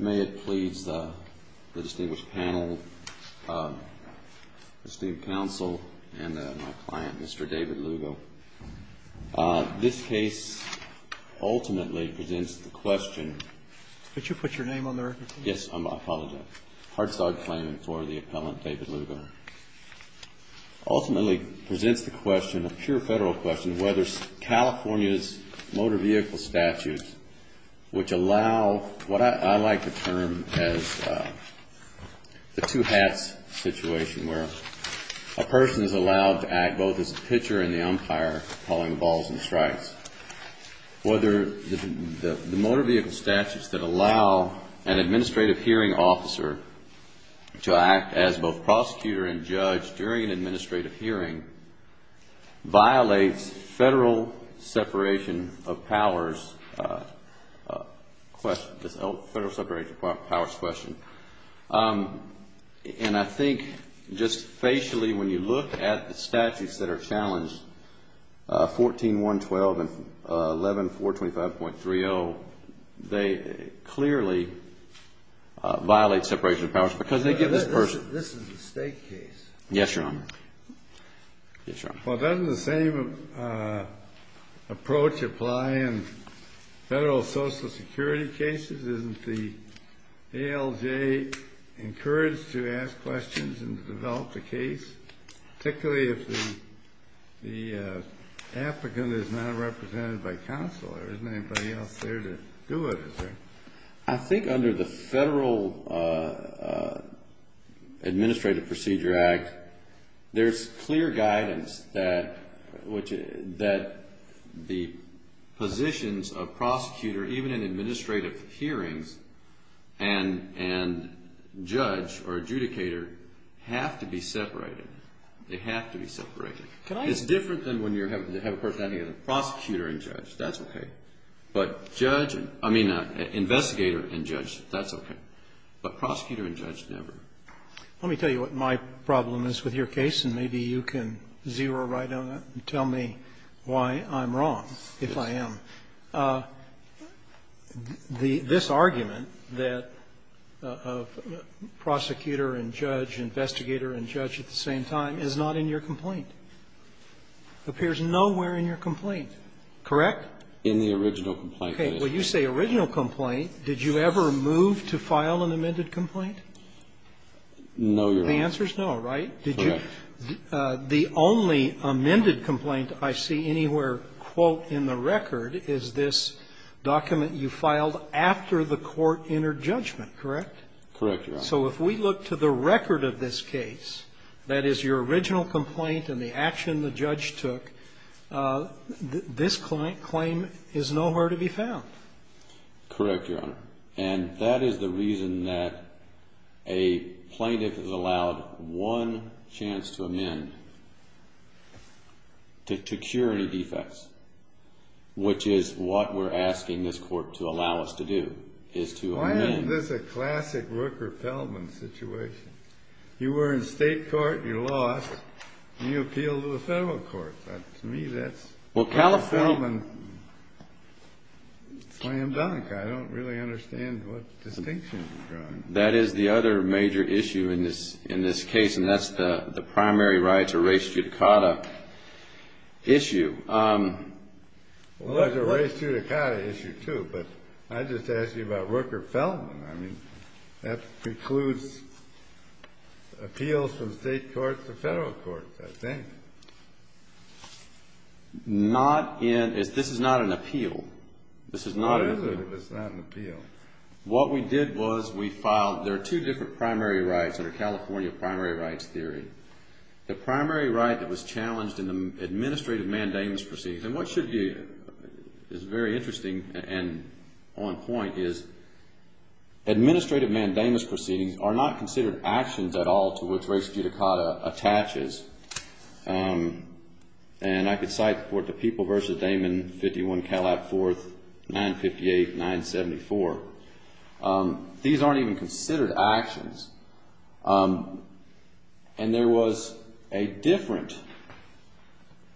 May it please the distinguished panel, esteemed counsel, and my client, Mr. David Lugo. This case ultimately presents the question... Could you put your name on the record, please? Yes, I apologize. Hard-starred claim for the appellant, David Lugo. Ultimately presents the question, a pure federal question, whether California's motor vehicle statutes, which allow what I like to term as the two hats situation, where a person is allowed to act both as a pitcher and the umpire, calling balls and strikes. Whether the motor vehicle statutes that allow an administrative hearing officer to act as both prosecutor and judge during an administrative hearing violates federal separation of powers question. And I think just facially when you look at the statutes that are challenged, 14-112 and 11-425.30, they clearly violate separation of powers because they give this person... This is a state case. Yes, Your Honor. Well, doesn't the same approach apply in federal Social Security cases? Isn't the ALJ encouraged to ask questions and develop the case? Particularly if the applicant is not represented by counsel. Isn't anybody else there to do it? I think under the Federal Administrative Procedure Act, there's clear guidance that the positions of prosecutor, even in administrative hearings, and judge or adjudicator have to be separated. They have to be separated. It's different than when you have a prosecutor and judge. That's okay. But judge, I mean, investigator and judge, that's okay. But prosecutor and judge, never. Let me tell you what my problem is with your case, and maybe you can zero right on it and tell me why I'm wrong, if I am. This argument that prosecutor and judge, investigator and judge at the same time is not in your complaint, appears nowhere in your complaint. Correct? In the original complaint. Okay. Well, you say original complaint. Did you ever move to file an amended complaint? No, Your Honor. The answer is no, right? Correct. The only amended complaint I see anywhere, quote, in the record is this document you filed after the court entered judgment, correct? Correct, Your Honor. So if we look to the record of this case, that is, your original complaint and the action the judge took, this claim is nowhere to be found. Correct, Your Honor. And that is the reason that a plaintiff is allowed one chance to amend, to cure any defects, which is what we're asking this court to allow us to do, is to amend. Why isn't this a classic Rook repellent situation? You were in state court, you lost, and you appealed to the federal court. To me, that's Rook or Feldman slam dunk. I don't really understand what distinction you're drawing. That is the other major issue in this case, and that's the primary right to res judicata issue. Well, there's a res judicata issue, too, but I just asked you about Rook or Feldman. I mean, that precludes appeals from state courts to federal courts, I think. This is not an appeal. What is it if it's not an appeal? What we did was we filed. There are two different primary rights that are California primary rights theory. The primary right that was challenged in the administrative mandamus proceeding, and what is very interesting and on point is administrative mandamus proceedings are not considered actions at all to which res judicata attaches, and I could cite the people v. Damon, 51 Calab 4th, 958-974. These aren't even considered actions, and there was a different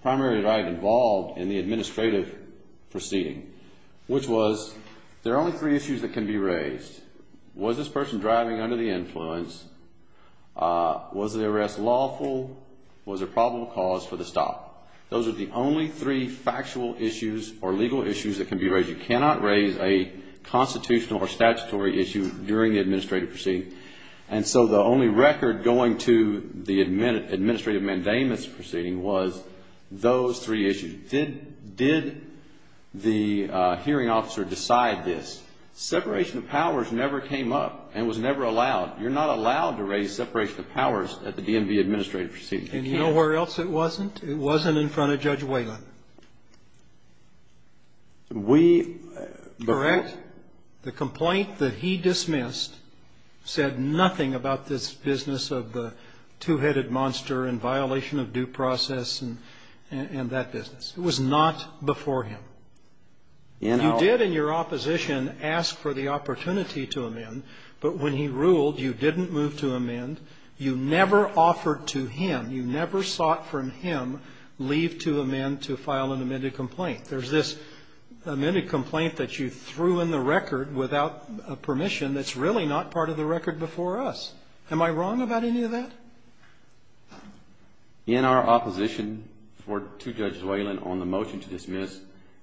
primary right involved in the administrative proceeding, which was there are only three issues that can be raised. Was this person driving under the influence? Was the arrest lawful? Was there probable cause for the stop? Those are the only three factual issues or legal issues that can be raised. You cannot raise a constitutional or statutory issue during the administrative proceeding, and so the only record going to the administrative mandamus proceeding was those three issues. Did the hearing officer decide this? Separation of powers never came up and was never allowed. You're not allowed to raise separation of powers at the DMV administrative proceeding. And you know where else it wasn't? It wasn't in front of Judge Whalen. And the complaint that he dismissed said nothing about this business of the two-headed monster in violation of due process and that business. It was not before him. You did in your opposition ask for the opportunity to amend, but when he ruled you didn't move to amend, you never offered to him, you never sought from him leave to amend to file an amended complaint. There's this amended complaint that you threw in the record without permission that's really not part of the record before us. Am I wrong about any of that? In our opposition to Judge Whalen on the motion to dismiss,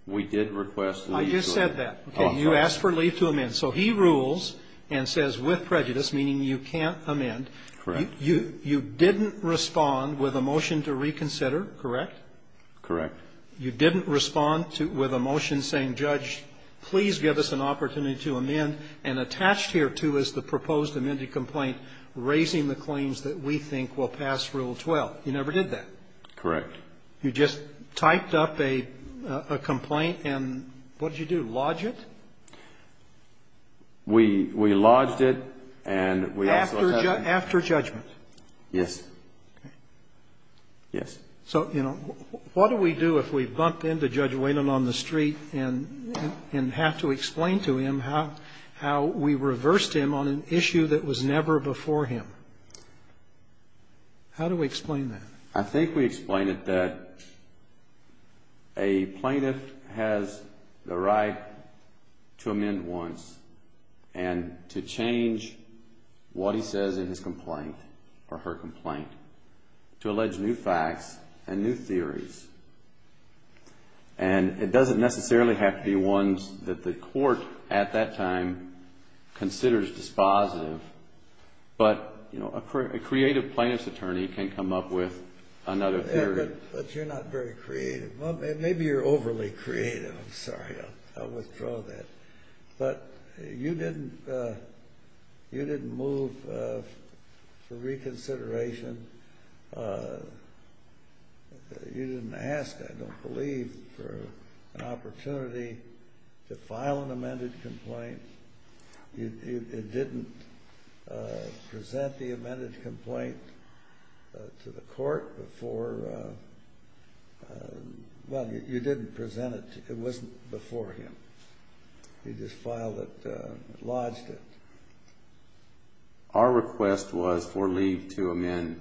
we did request to leave. I just said that. Okay. You asked for leave to amend. So he rules and says with prejudice, meaning you can't amend. Correct. You didn't respond with a motion to reconsider, correct? Correct. You didn't respond with a motion saying, Judge, please give us an opportunity to amend, and attached here, too, is the proposed amended complaint raising the claims that we think will pass Rule 12. You never did that. Correct. You just typed up a complaint and what did you do, lodge it? We lodged it and we also had a ---- After judgment. Yes. Okay. Yes. So, you know, what do we do if we bump into Judge Whalen on the street and have to explain to him how we reversed him on an issue that was never before him? How do we explain that? I think we explain it that a plaintiff has the right to amend once and to change what he says in his complaint or her complaint to allege new facts and new theories. And it doesn't necessarily have to be ones that the court, at that time, considers dispositive, but, you know, a creative plaintiff's attorney can come up with another theory. But you're not very creative. Maybe you're overly creative. I'm sorry. I'll withdraw that. But you didn't move the reconsideration. You didn't ask, I don't believe, for an opportunity to file an amended complaint. You didn't present the amended complaint to the court before. Well, you didn't present it. It wasn't before him. He just filed it, lodged it. Our request was for leave to amend,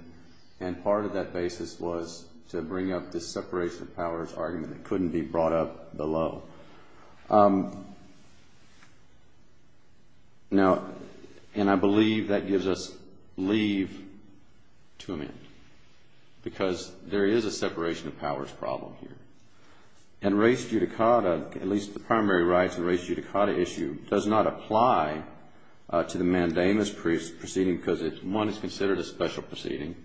and part of that basis was to bring up this separation of powers argument that couldn't be brought up below. Now, and I believe that gives us leave to amend because there is a separation of powers problem here. And race judicata, at least the primary rights and race judicata issue, does not apply to the mandamus proceeding because, one, it's considered a special proceeding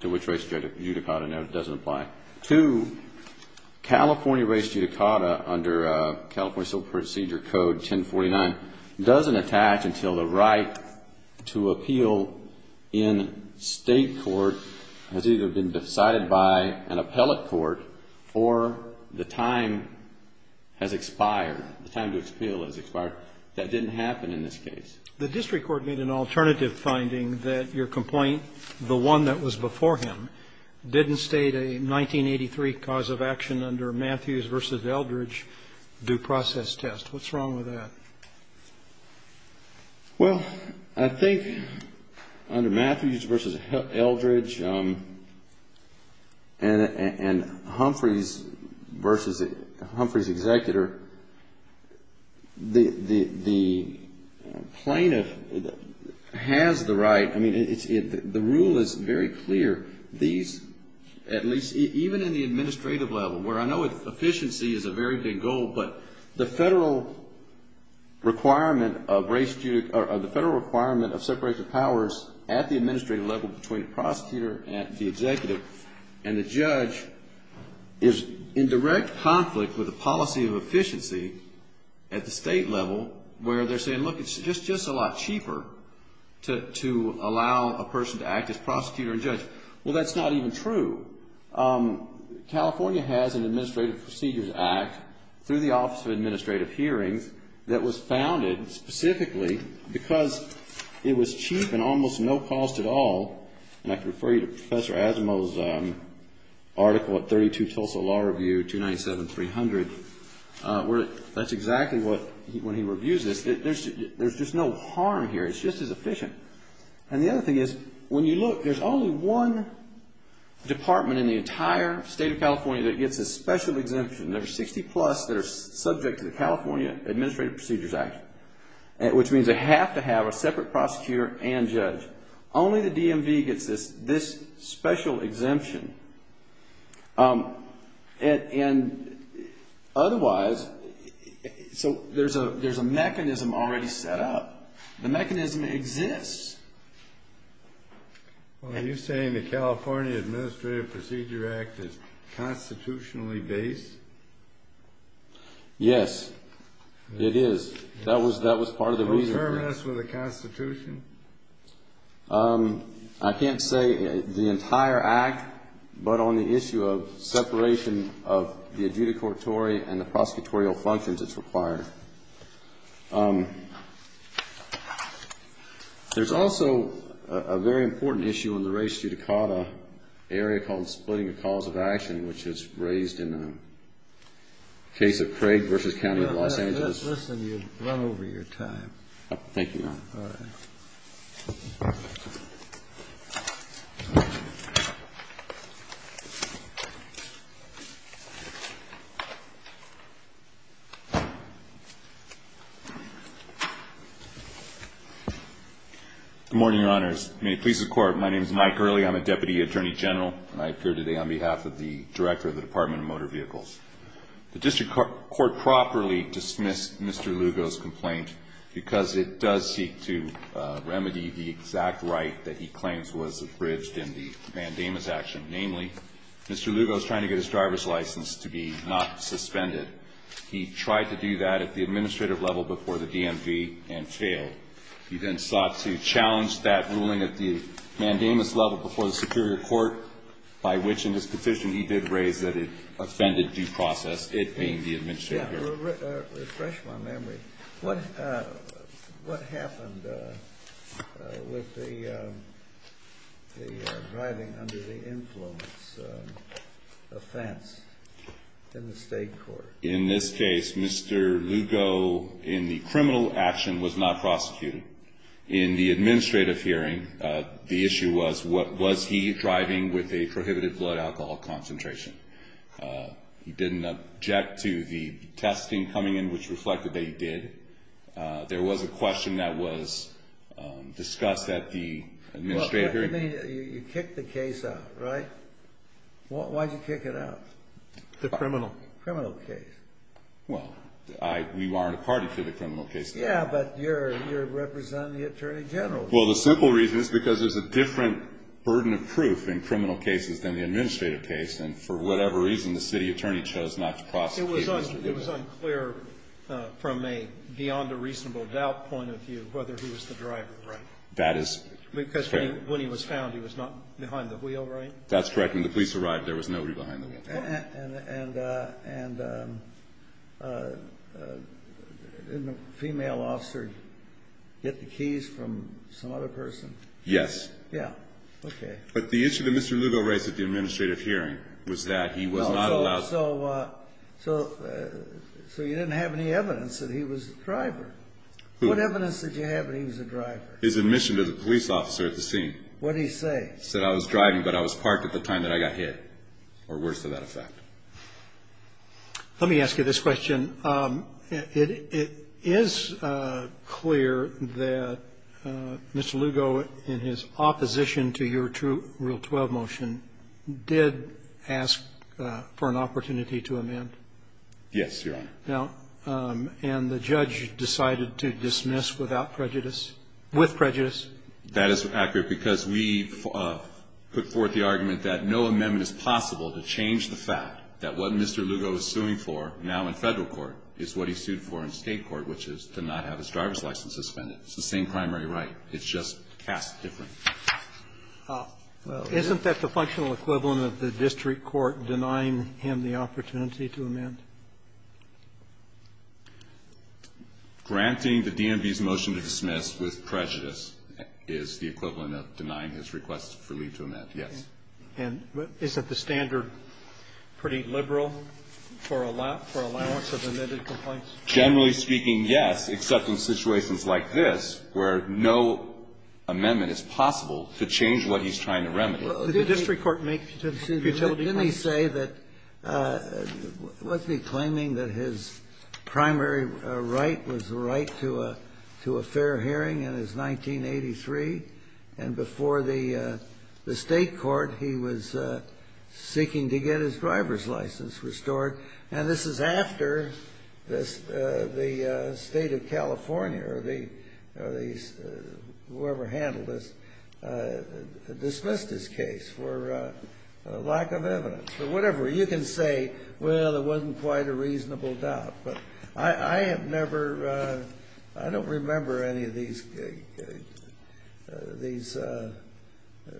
to which race judicata doesn't apply. Two, California race judicata under California Civil Procedure Code 1049 doesn't attach until the right to appeal in state court has either been decided by an appellate court or the time has expired, the time to appeal has expired. That didn't happen in this case. The district court made an alternative finding that your complaint, the one that was before him, didn't state a 1983 cause of action under Matthews v. Eldredge due process test. What's wrong with that? Well, I think under Matthews v. Eldredge and Humphreys v. Humphreys' executor, the plaintiff has the right. I mean, the rule is very clear. These, at least even in the administrative level, where I know efficiency is a very big goal, but the federal requirement of separation of powers at the administrative level between the prosecutor and the executive and the judge is in direct conflict with the policy of efficiency at the state level where they're saying, look, it's just a lot cheaper to allow a person to act as prosecutor and judge. Well, that's not even true. California has an Administrative Procedures Act through the Office of Administrative Hearings that was founded specifically because it was cheap and almost no cost at all. And I can refer you to Professor Asimow's article at 32 Tulsa Law Review 297-300 where that's exactly what, when he reviews this, there's just no harm here. It's just as efficient. And the other thing is, when you look, there's only one department in the entire state of California that gets a special exemption. There are 60-plus that are subject to the California Administrative Procedures Act, which means they have to have a separate prosecutor and judge. Only the DMV gets this special exemption. And otherwise, so there's a mechanism already set up. The mechanism exists. Well, are you saying the California Administrative Procedures Act is constitutionally based? Yes, it is. That was part of the reason for it. So it's harmonious with the Constitution? I can't say the entire Act, but on the issue of separation of the adjudicatory and the prosecutorial functions that's required. There's also a very important issue in the res judicata area called splitting the cause of action, which is raised in the case of Craig v. County of Los Angeles. Listen, you've run over your time. Thank you, Your Honor. All right. Thank you. Good morning, Your Honors. May it please the Court, my name is Mike Gurley. I'm a Deputy Attorney General, and I appear today on behalf of the Director of the Department of Motor Vehicles. The district court properly dismissed Mr. Lugo's complaint because it does seek to remedy the exact right that he claims was abridged in the mandamus action, namely Mr. Lugo's trying to get his driver's license to be not suspended. He tried to do that at the administrative level before the DMV and failed. He then sought to challenge that ruling at the mandamus level before the superior court, by which in his petition he did raise that it offended due process, it being the administrative hearing. Refresh my memory. What happened with the driving under the influence offense in the state court? In this case, Mr. Lugo, in the criminal action, was not prosecuted. In the administrative hearing, the issue was, was he driving with a prohibited blood alcohol concentration? He didn't object to the testing coming in, which reflected that he did. There was a question that was discussed at the administrative hearing. You kicked the case out, right? Why'd you kick it out? The criminal case. Well, we weren't a party to the criminal case. Yeah, but you're representing the attorney general. Well, the simple reason is because there's a different burden of proof in criminal cases than the administrative case, and for whatever reason, the city attorney chose not to prosecute Mr. Lugo. It was unclear from a beyond a reasonable doubt point of view whether he was the driver, right? That is fair. Because when he was found, he was not behind the wheel, right? That's correct. When the police arrived, there was nobody behind the wheel. And didn't a female officer get the keys from some other person? Yes. Yeah. Okay. But the issue that Mr. Lugo raised at the administrative hearing was that he was not allowed. So you didn't have any evidence that he was the driver? What evidence did you have that he was the driver? His admission to the police officer at the scene. What did he say? He said I was driving, but I was parked at the time that I got hit, or worse to that effect. Let me ask you this question. It is clear that Mr. Lugo, in his opposition to your Rule 12 motion, did ask for an opportunity to amend. Yes, Your Honor. And the judge decided to dismiss without prejudice, with prejudice? That is accurate because we put forth the argument that no amendment is possible to change the fact that what Mr. Lugo is suing for now in Federal court is what he sued for in State court, which is to not have his driver's license suspended. It's the same primary right. It's just cast differently. Isn't that the functional equivalent of the district court denying him the opportunity to amend? Granting the DMV's motion to dismiss with prejudice is the equivalent of denying his request for leave to amend, yes. And isn't the standard pretty liberal for allowance of amended complaints? Generally speaking, yes, except in situations like this where no amendment is possible to change what he's trying to remedy. Well, didn't he say that, wasn't he claiming that his primary right was the right to a fair hearing in his 1983? And before the State court, he was seeking to get his driver's license restored. And this is after the State of California or the whoever handled this dismissed this case for lack of evidence or whatever. You can say, well, there wasn't quite a reasonable doubt. But I have never, I don't remember any of these, these,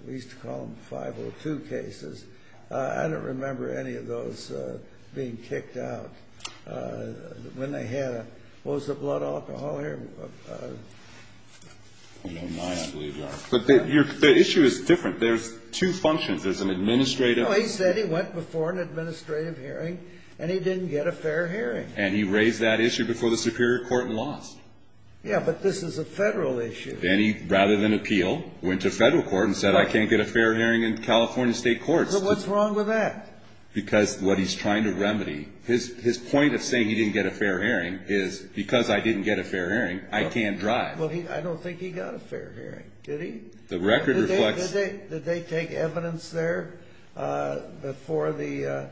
we used to call them 502 cases. I don't remember any of those being kicked out when they had a, what was the blood alcohol here? I don't know. But the issue is different. There's two functions. There's an administrative. No, he said he went before an administrative hearing and he didn't get a fair hearing. And he raised that issue before the superior court and lost. Yeah, but this is a Federal issue. Then he, rather than appeal, went to Federal court and said I can't get a fair hearing in California State courts. So what's wrong with that? Because what he's trying to remedy, his point of saying he didn't get a fair hearing is because I didn't get a fair hearing, I can't drive. I don't think he got a fair hearing. Did he? The record reflects. Did they take evidence there before the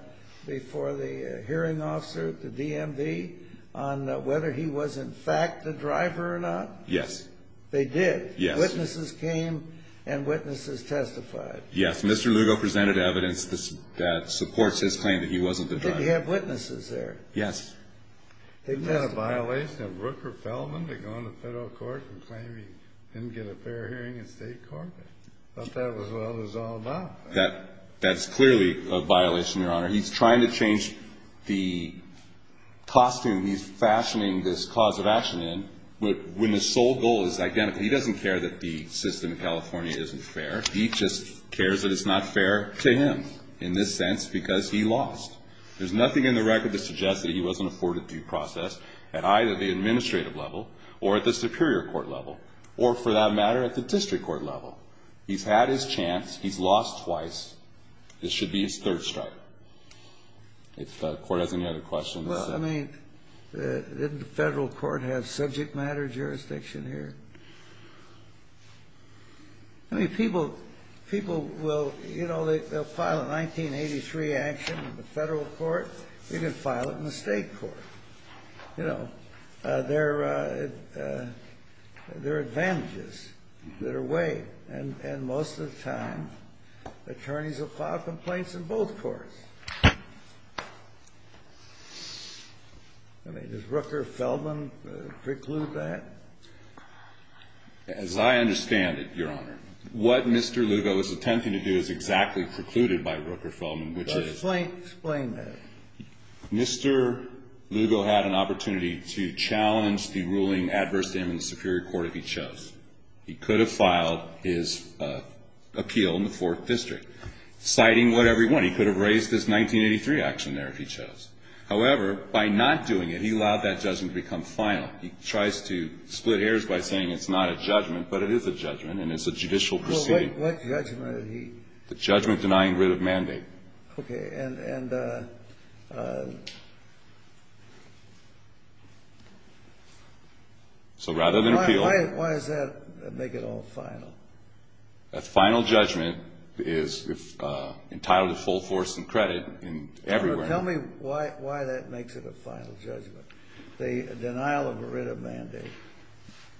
hearing officer, the DMV, on whether he was in fact the driver or not? Yes. They did? Yes. Witnesses came and witnesses testified. Yes. Mr. Lugo presented evidence that supports his claim that he wasn't the driver. Did he have witnesses there? Yes. Isn't that a violation of Rooker-Feldman to go into Federal court and claim he didn't get a fair hearing in State court? I thought that was what it was all about. That's clearly a violation, Your Honor. He's trying to change the costume he's fashioning this cause of action in when the sole goal is identical. He doesn't care that the system in California isn't fair. He just cares that it's not fair to him in this sense because he lost. There's nothing in the record that suggests that he wasn't afforded due process at either the administrative level or at the superior court level or, for that matter, at the district court level. He's had his chance. He's lost twice. This should be his third strike. If the court has any other questions. Well, I mean, didn't the Federal court have subject matter jurisdiction here? I mean, people will, you know, they'll file a 1983 action in the Federal court. You can file it in the State court. You know, there are advantages that are weighed. And most of the time, attorneys will file complaints in both courts. I mean, does Rooker-Feldman preclude that? As I understand it, Your Honor, what Mr. Lugo is attempting to do is exactly precluded by Rooker-Feldman, which is. Explain that. Mr. Lugo had an opportunity to challenge the ruling adverse to him in the superior court if he chose. He could have filed his appeal in the Fourth District, citing whatever he wanted. He could have raised his 1983 action there if he chose. However, by not doing it, he allowed that judgment to become final. He tries to split hairs by saying it's not a judgment, but it is a judgment, and it's a judicial proceeding. Well, what judgment did he. The judgment denying writ of mandate. Okay, and. So rather than appeal. Why does that make it all final? A final judgment is entitled to full force and credit everywhere. Tell me why that makes it a final judgment. The denial of a writ of mandate.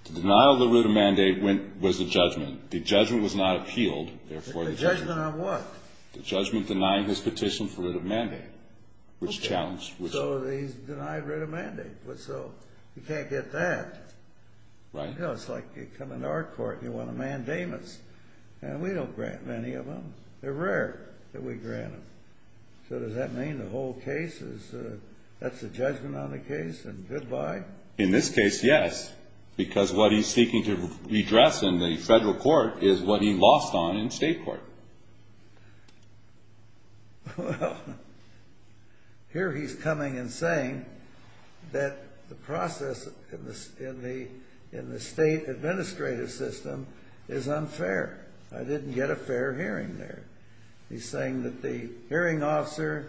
The denial of the writ of mandate was the judgment. The judgment was not appealed. The judgment on what? The judgment denying his petition for writ of mandate, which challenged. So he's denied writ of mandate. So you can't get that. Right. It's like you come into our court and you want a mandamus, and we don't grant many of them. They're rare that we grant them. So does that mean the whole case is, that's the judgment on the case? And goodbye? In this case, yes. Because what he's seeking to redress in the federal court is what he lost on in state court. Well, here he's coming and saying that the process in the state administrative system is unfair. I didn't get a fair hearing there. He's saying that the hearing officer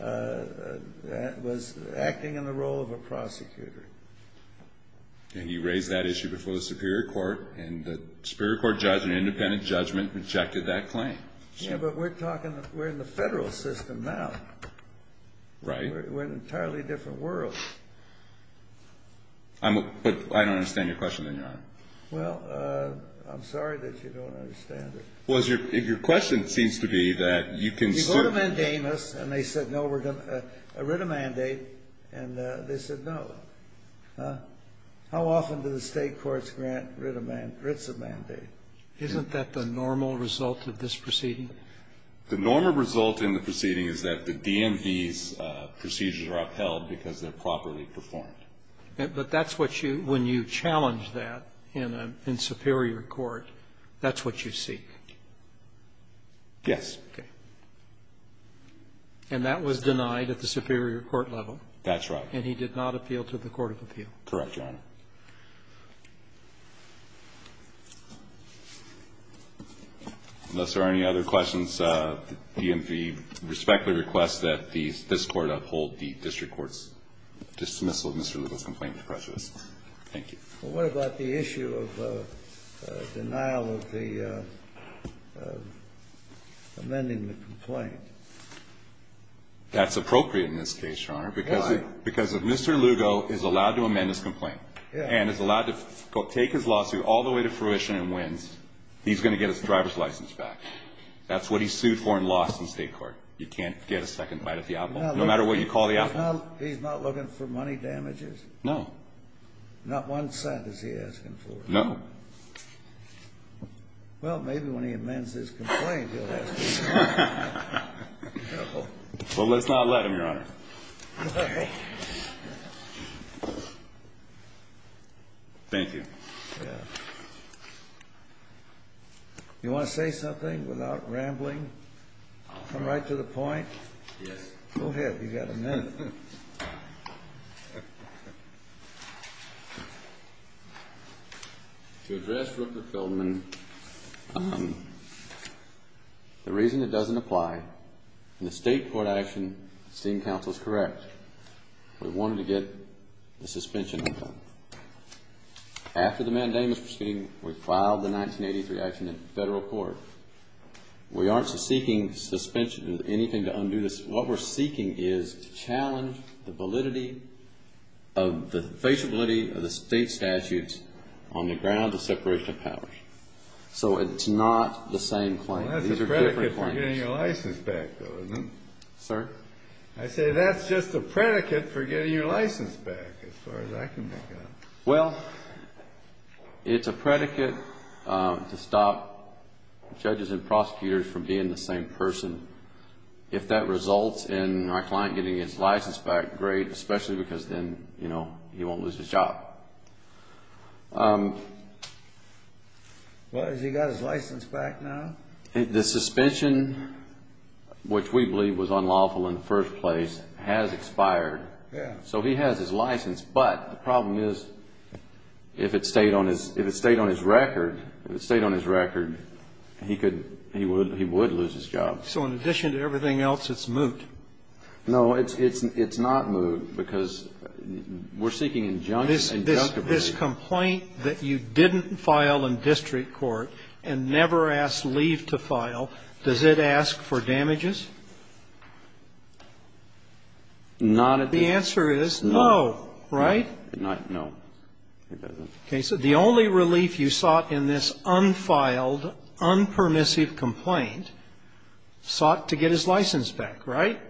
was acting in the role of a prosecutor. And he raised that issue before the superior court, and the superior court judge in independent judgment rejected that claim. Yeah, but we're talking, we're in the federal system now. Right. We're in an entirely different world. But I don't understand your question, then, Your Honor. Well, I'm sorry that you don't understand it. Well, your question seems to be that you can sue. You go to mandamus, and they said, no, we're going to writ a mandate. And they said, no. How often do the state courts grant writs of mandate? Isn't that the normal result of this proceeding? The normal result in the proceeding is that the DMV's procedures are upheld because they're properly performed. But that's what you, when you challenge that in superior court, that's what you seek? Yes. Okay. And that was denied at the superior court level? That's right. And he did not appeal to the court of appeal? Correct, Your Honor. Unless there are any other questions, the DMV respectfully requests that this court uphold the district court's dismissal of Mr. Lugo's complaint to prejudice. Thank you. Well, what about the issue of denial of the amending the complaint? That's appropriate in this case, Your Honor. Why? Because if Mr. Lugo is allowed to amend his complaint and is allowed to take his lawsuit all the way to fruition and wins, he's going to get his driver's license back. That's what he sued for and lost in state court. You can't get a second bite at the apple, no matter what you call the apple. He's not looking for money damages? No. Not one cent is he asking for? No. Well, maybe when he amends his complaint he'll ask for more. Well, let's not let him, Your Honor. Okay. Thank you. You want to say something without rambling? I'll come right to the point. Yes. Go ahead. You've got a minute. To address Rupert Feldman, the reason it doesn't apply in the state court action, the esteemed counsel is correct. We wanted to get the suspension undone. After the mandamus proceeding, we filed the 1983 action in federal court. We aren't seeking suspension or anything to undo this. What we're seeking is to challenge the validity of the state statutes on the grounds of separation of power. So it's not the same claim. These are different claims. That's a predicate for getting your license back, though, isn't it? Sir? I say that's just a predicate for getting your license back, as far as I can make out. Well, it's a predicate to stop judges and prosecutors from being the same person. If that results in our client getting his license back, great, especially because then, you know, he won't lose his job. Well, has he got his license back now? The suspension, which we believe was unlawful in the first place, has expired. Yes. So he has his license. But the problem is, if it stayed on his record, if it stayed on his record, he could he would lose his job. So in addition to everything else, it's moot. No. It's not moot, because we're seeking injunction. This complaint that you didn't file in district court and never asked leave to file, does it ask for damages? Not at this point. The answer is no, right? No. It doesn't. Okay. So the only relief you sought in this unfiled, unpermissive complaint, sought to get his license back, right?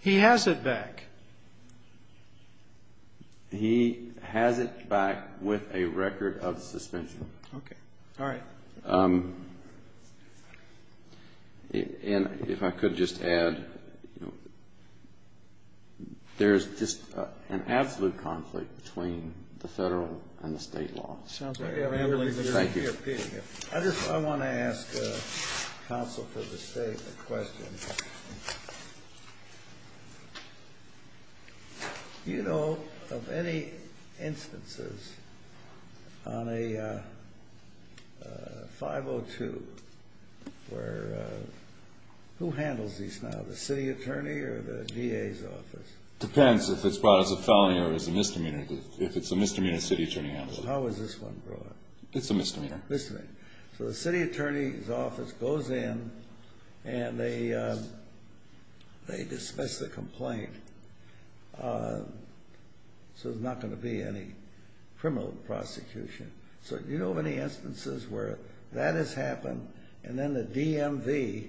He has it back. He has it back with a record of suspension. Okay. All right. And if I could just add, you know, there's just an absolute conflict between the federal and the state law. Thank you. I want to ask counsel for the state a question. Do you know of any instances on a 502 where, who handles these now, the city attorney or the DA's office? Depends if it's brought as a felony or as a misdemeanor. If it's a misdemeanor, the city attorney handles it. How is this one brought? It's a misdemeanor. Misdemeanor. So the city attorney's office goes in and they dismiss the complaint, so there's not going to be any criminal prosecution. So do you know of any instances where that has happened and then the DMV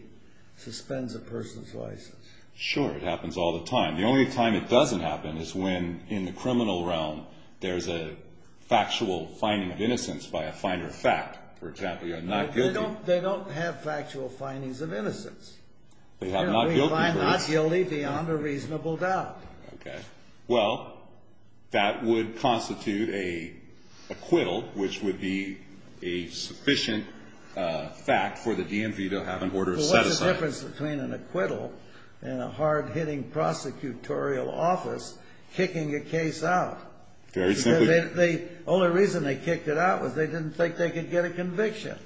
suspends a person's license? Sure. It happens all the time. The only time it doesn't happen is when, in the criminal realm, there's a factual finding of innocence by a finder of fact. For example, you're not guilty. They don't have factual findings of innocence. They have not guilty. We find not guilty beyond a reasonable doubt. Okay. Well, that would constitute an acquittal, which would be a sufficient fact for the DMV to have an order of set-aside. There's a difference between an acquittal and a hard-hitting prosecutorial office kicking a case out. Very simply. The only reason they kicked it out was they didn't think they could get a conviction.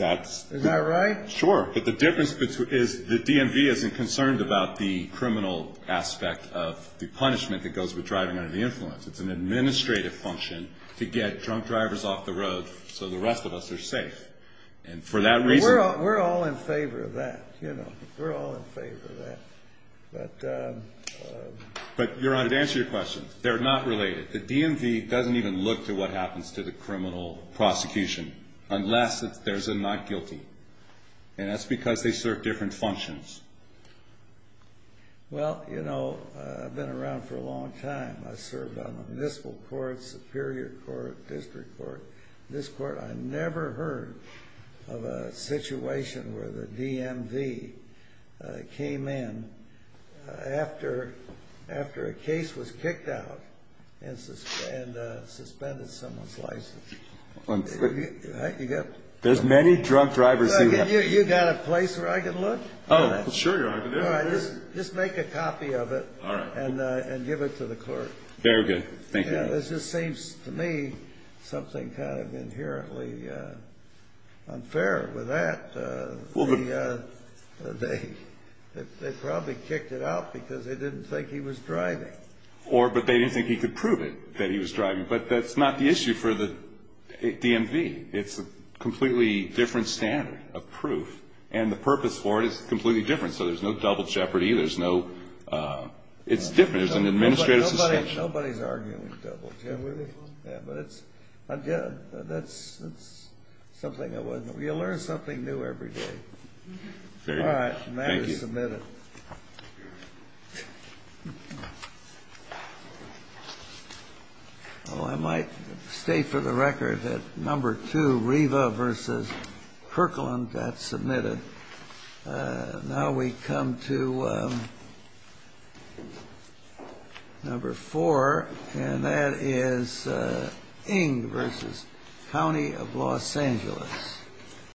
Is that right? Sure. But the difference is the DMV isn't concerned about the criminal aspect of the punishment that goes with driving under the influence. It's an administrative function to get drunk drivers off the road so the rest of us are safe. We're all in favor of that. We're all in favor of that. But, Your Honor, to answer your question, they're not related. The DMV doesn't even look to what happens to the criminal prosecution unless there's a not guilty. And that's because they serve different functions. Well, you know, I've been around for a long time. I served on the municipal court, superior court, district court. This court I never heard of a situation where the DMV came in after a case was kicked out and suspended someone's license. There's many drunk drivers. You got a place where I can look? Oh, sure, Your Honor. Just make a copy of it and give it to the court. Very good. Thank you. This just seems to me something kind of inherently unfair with that. They probably kicked it out because they didn't think he was driving. Or but they didn't think he could prove it, that he was driving. But that's not the issue for the DMV. It's a completely different standard of proof, and the purpose for it is completely different. So there's no double jeopardy. There's no ‑‑ it's different. There's an administrative suspension. Nobody's arguing double jeopardy. Yeah, but it's, again, that's something that wasn't ‑‑ you learn something new every day. All right. Thank you. And that is submitted. I might state for the record that number two, Riva v. Kirkland, that's submitted. Now we come to number four, and that is Ng v. County of Los Angeles.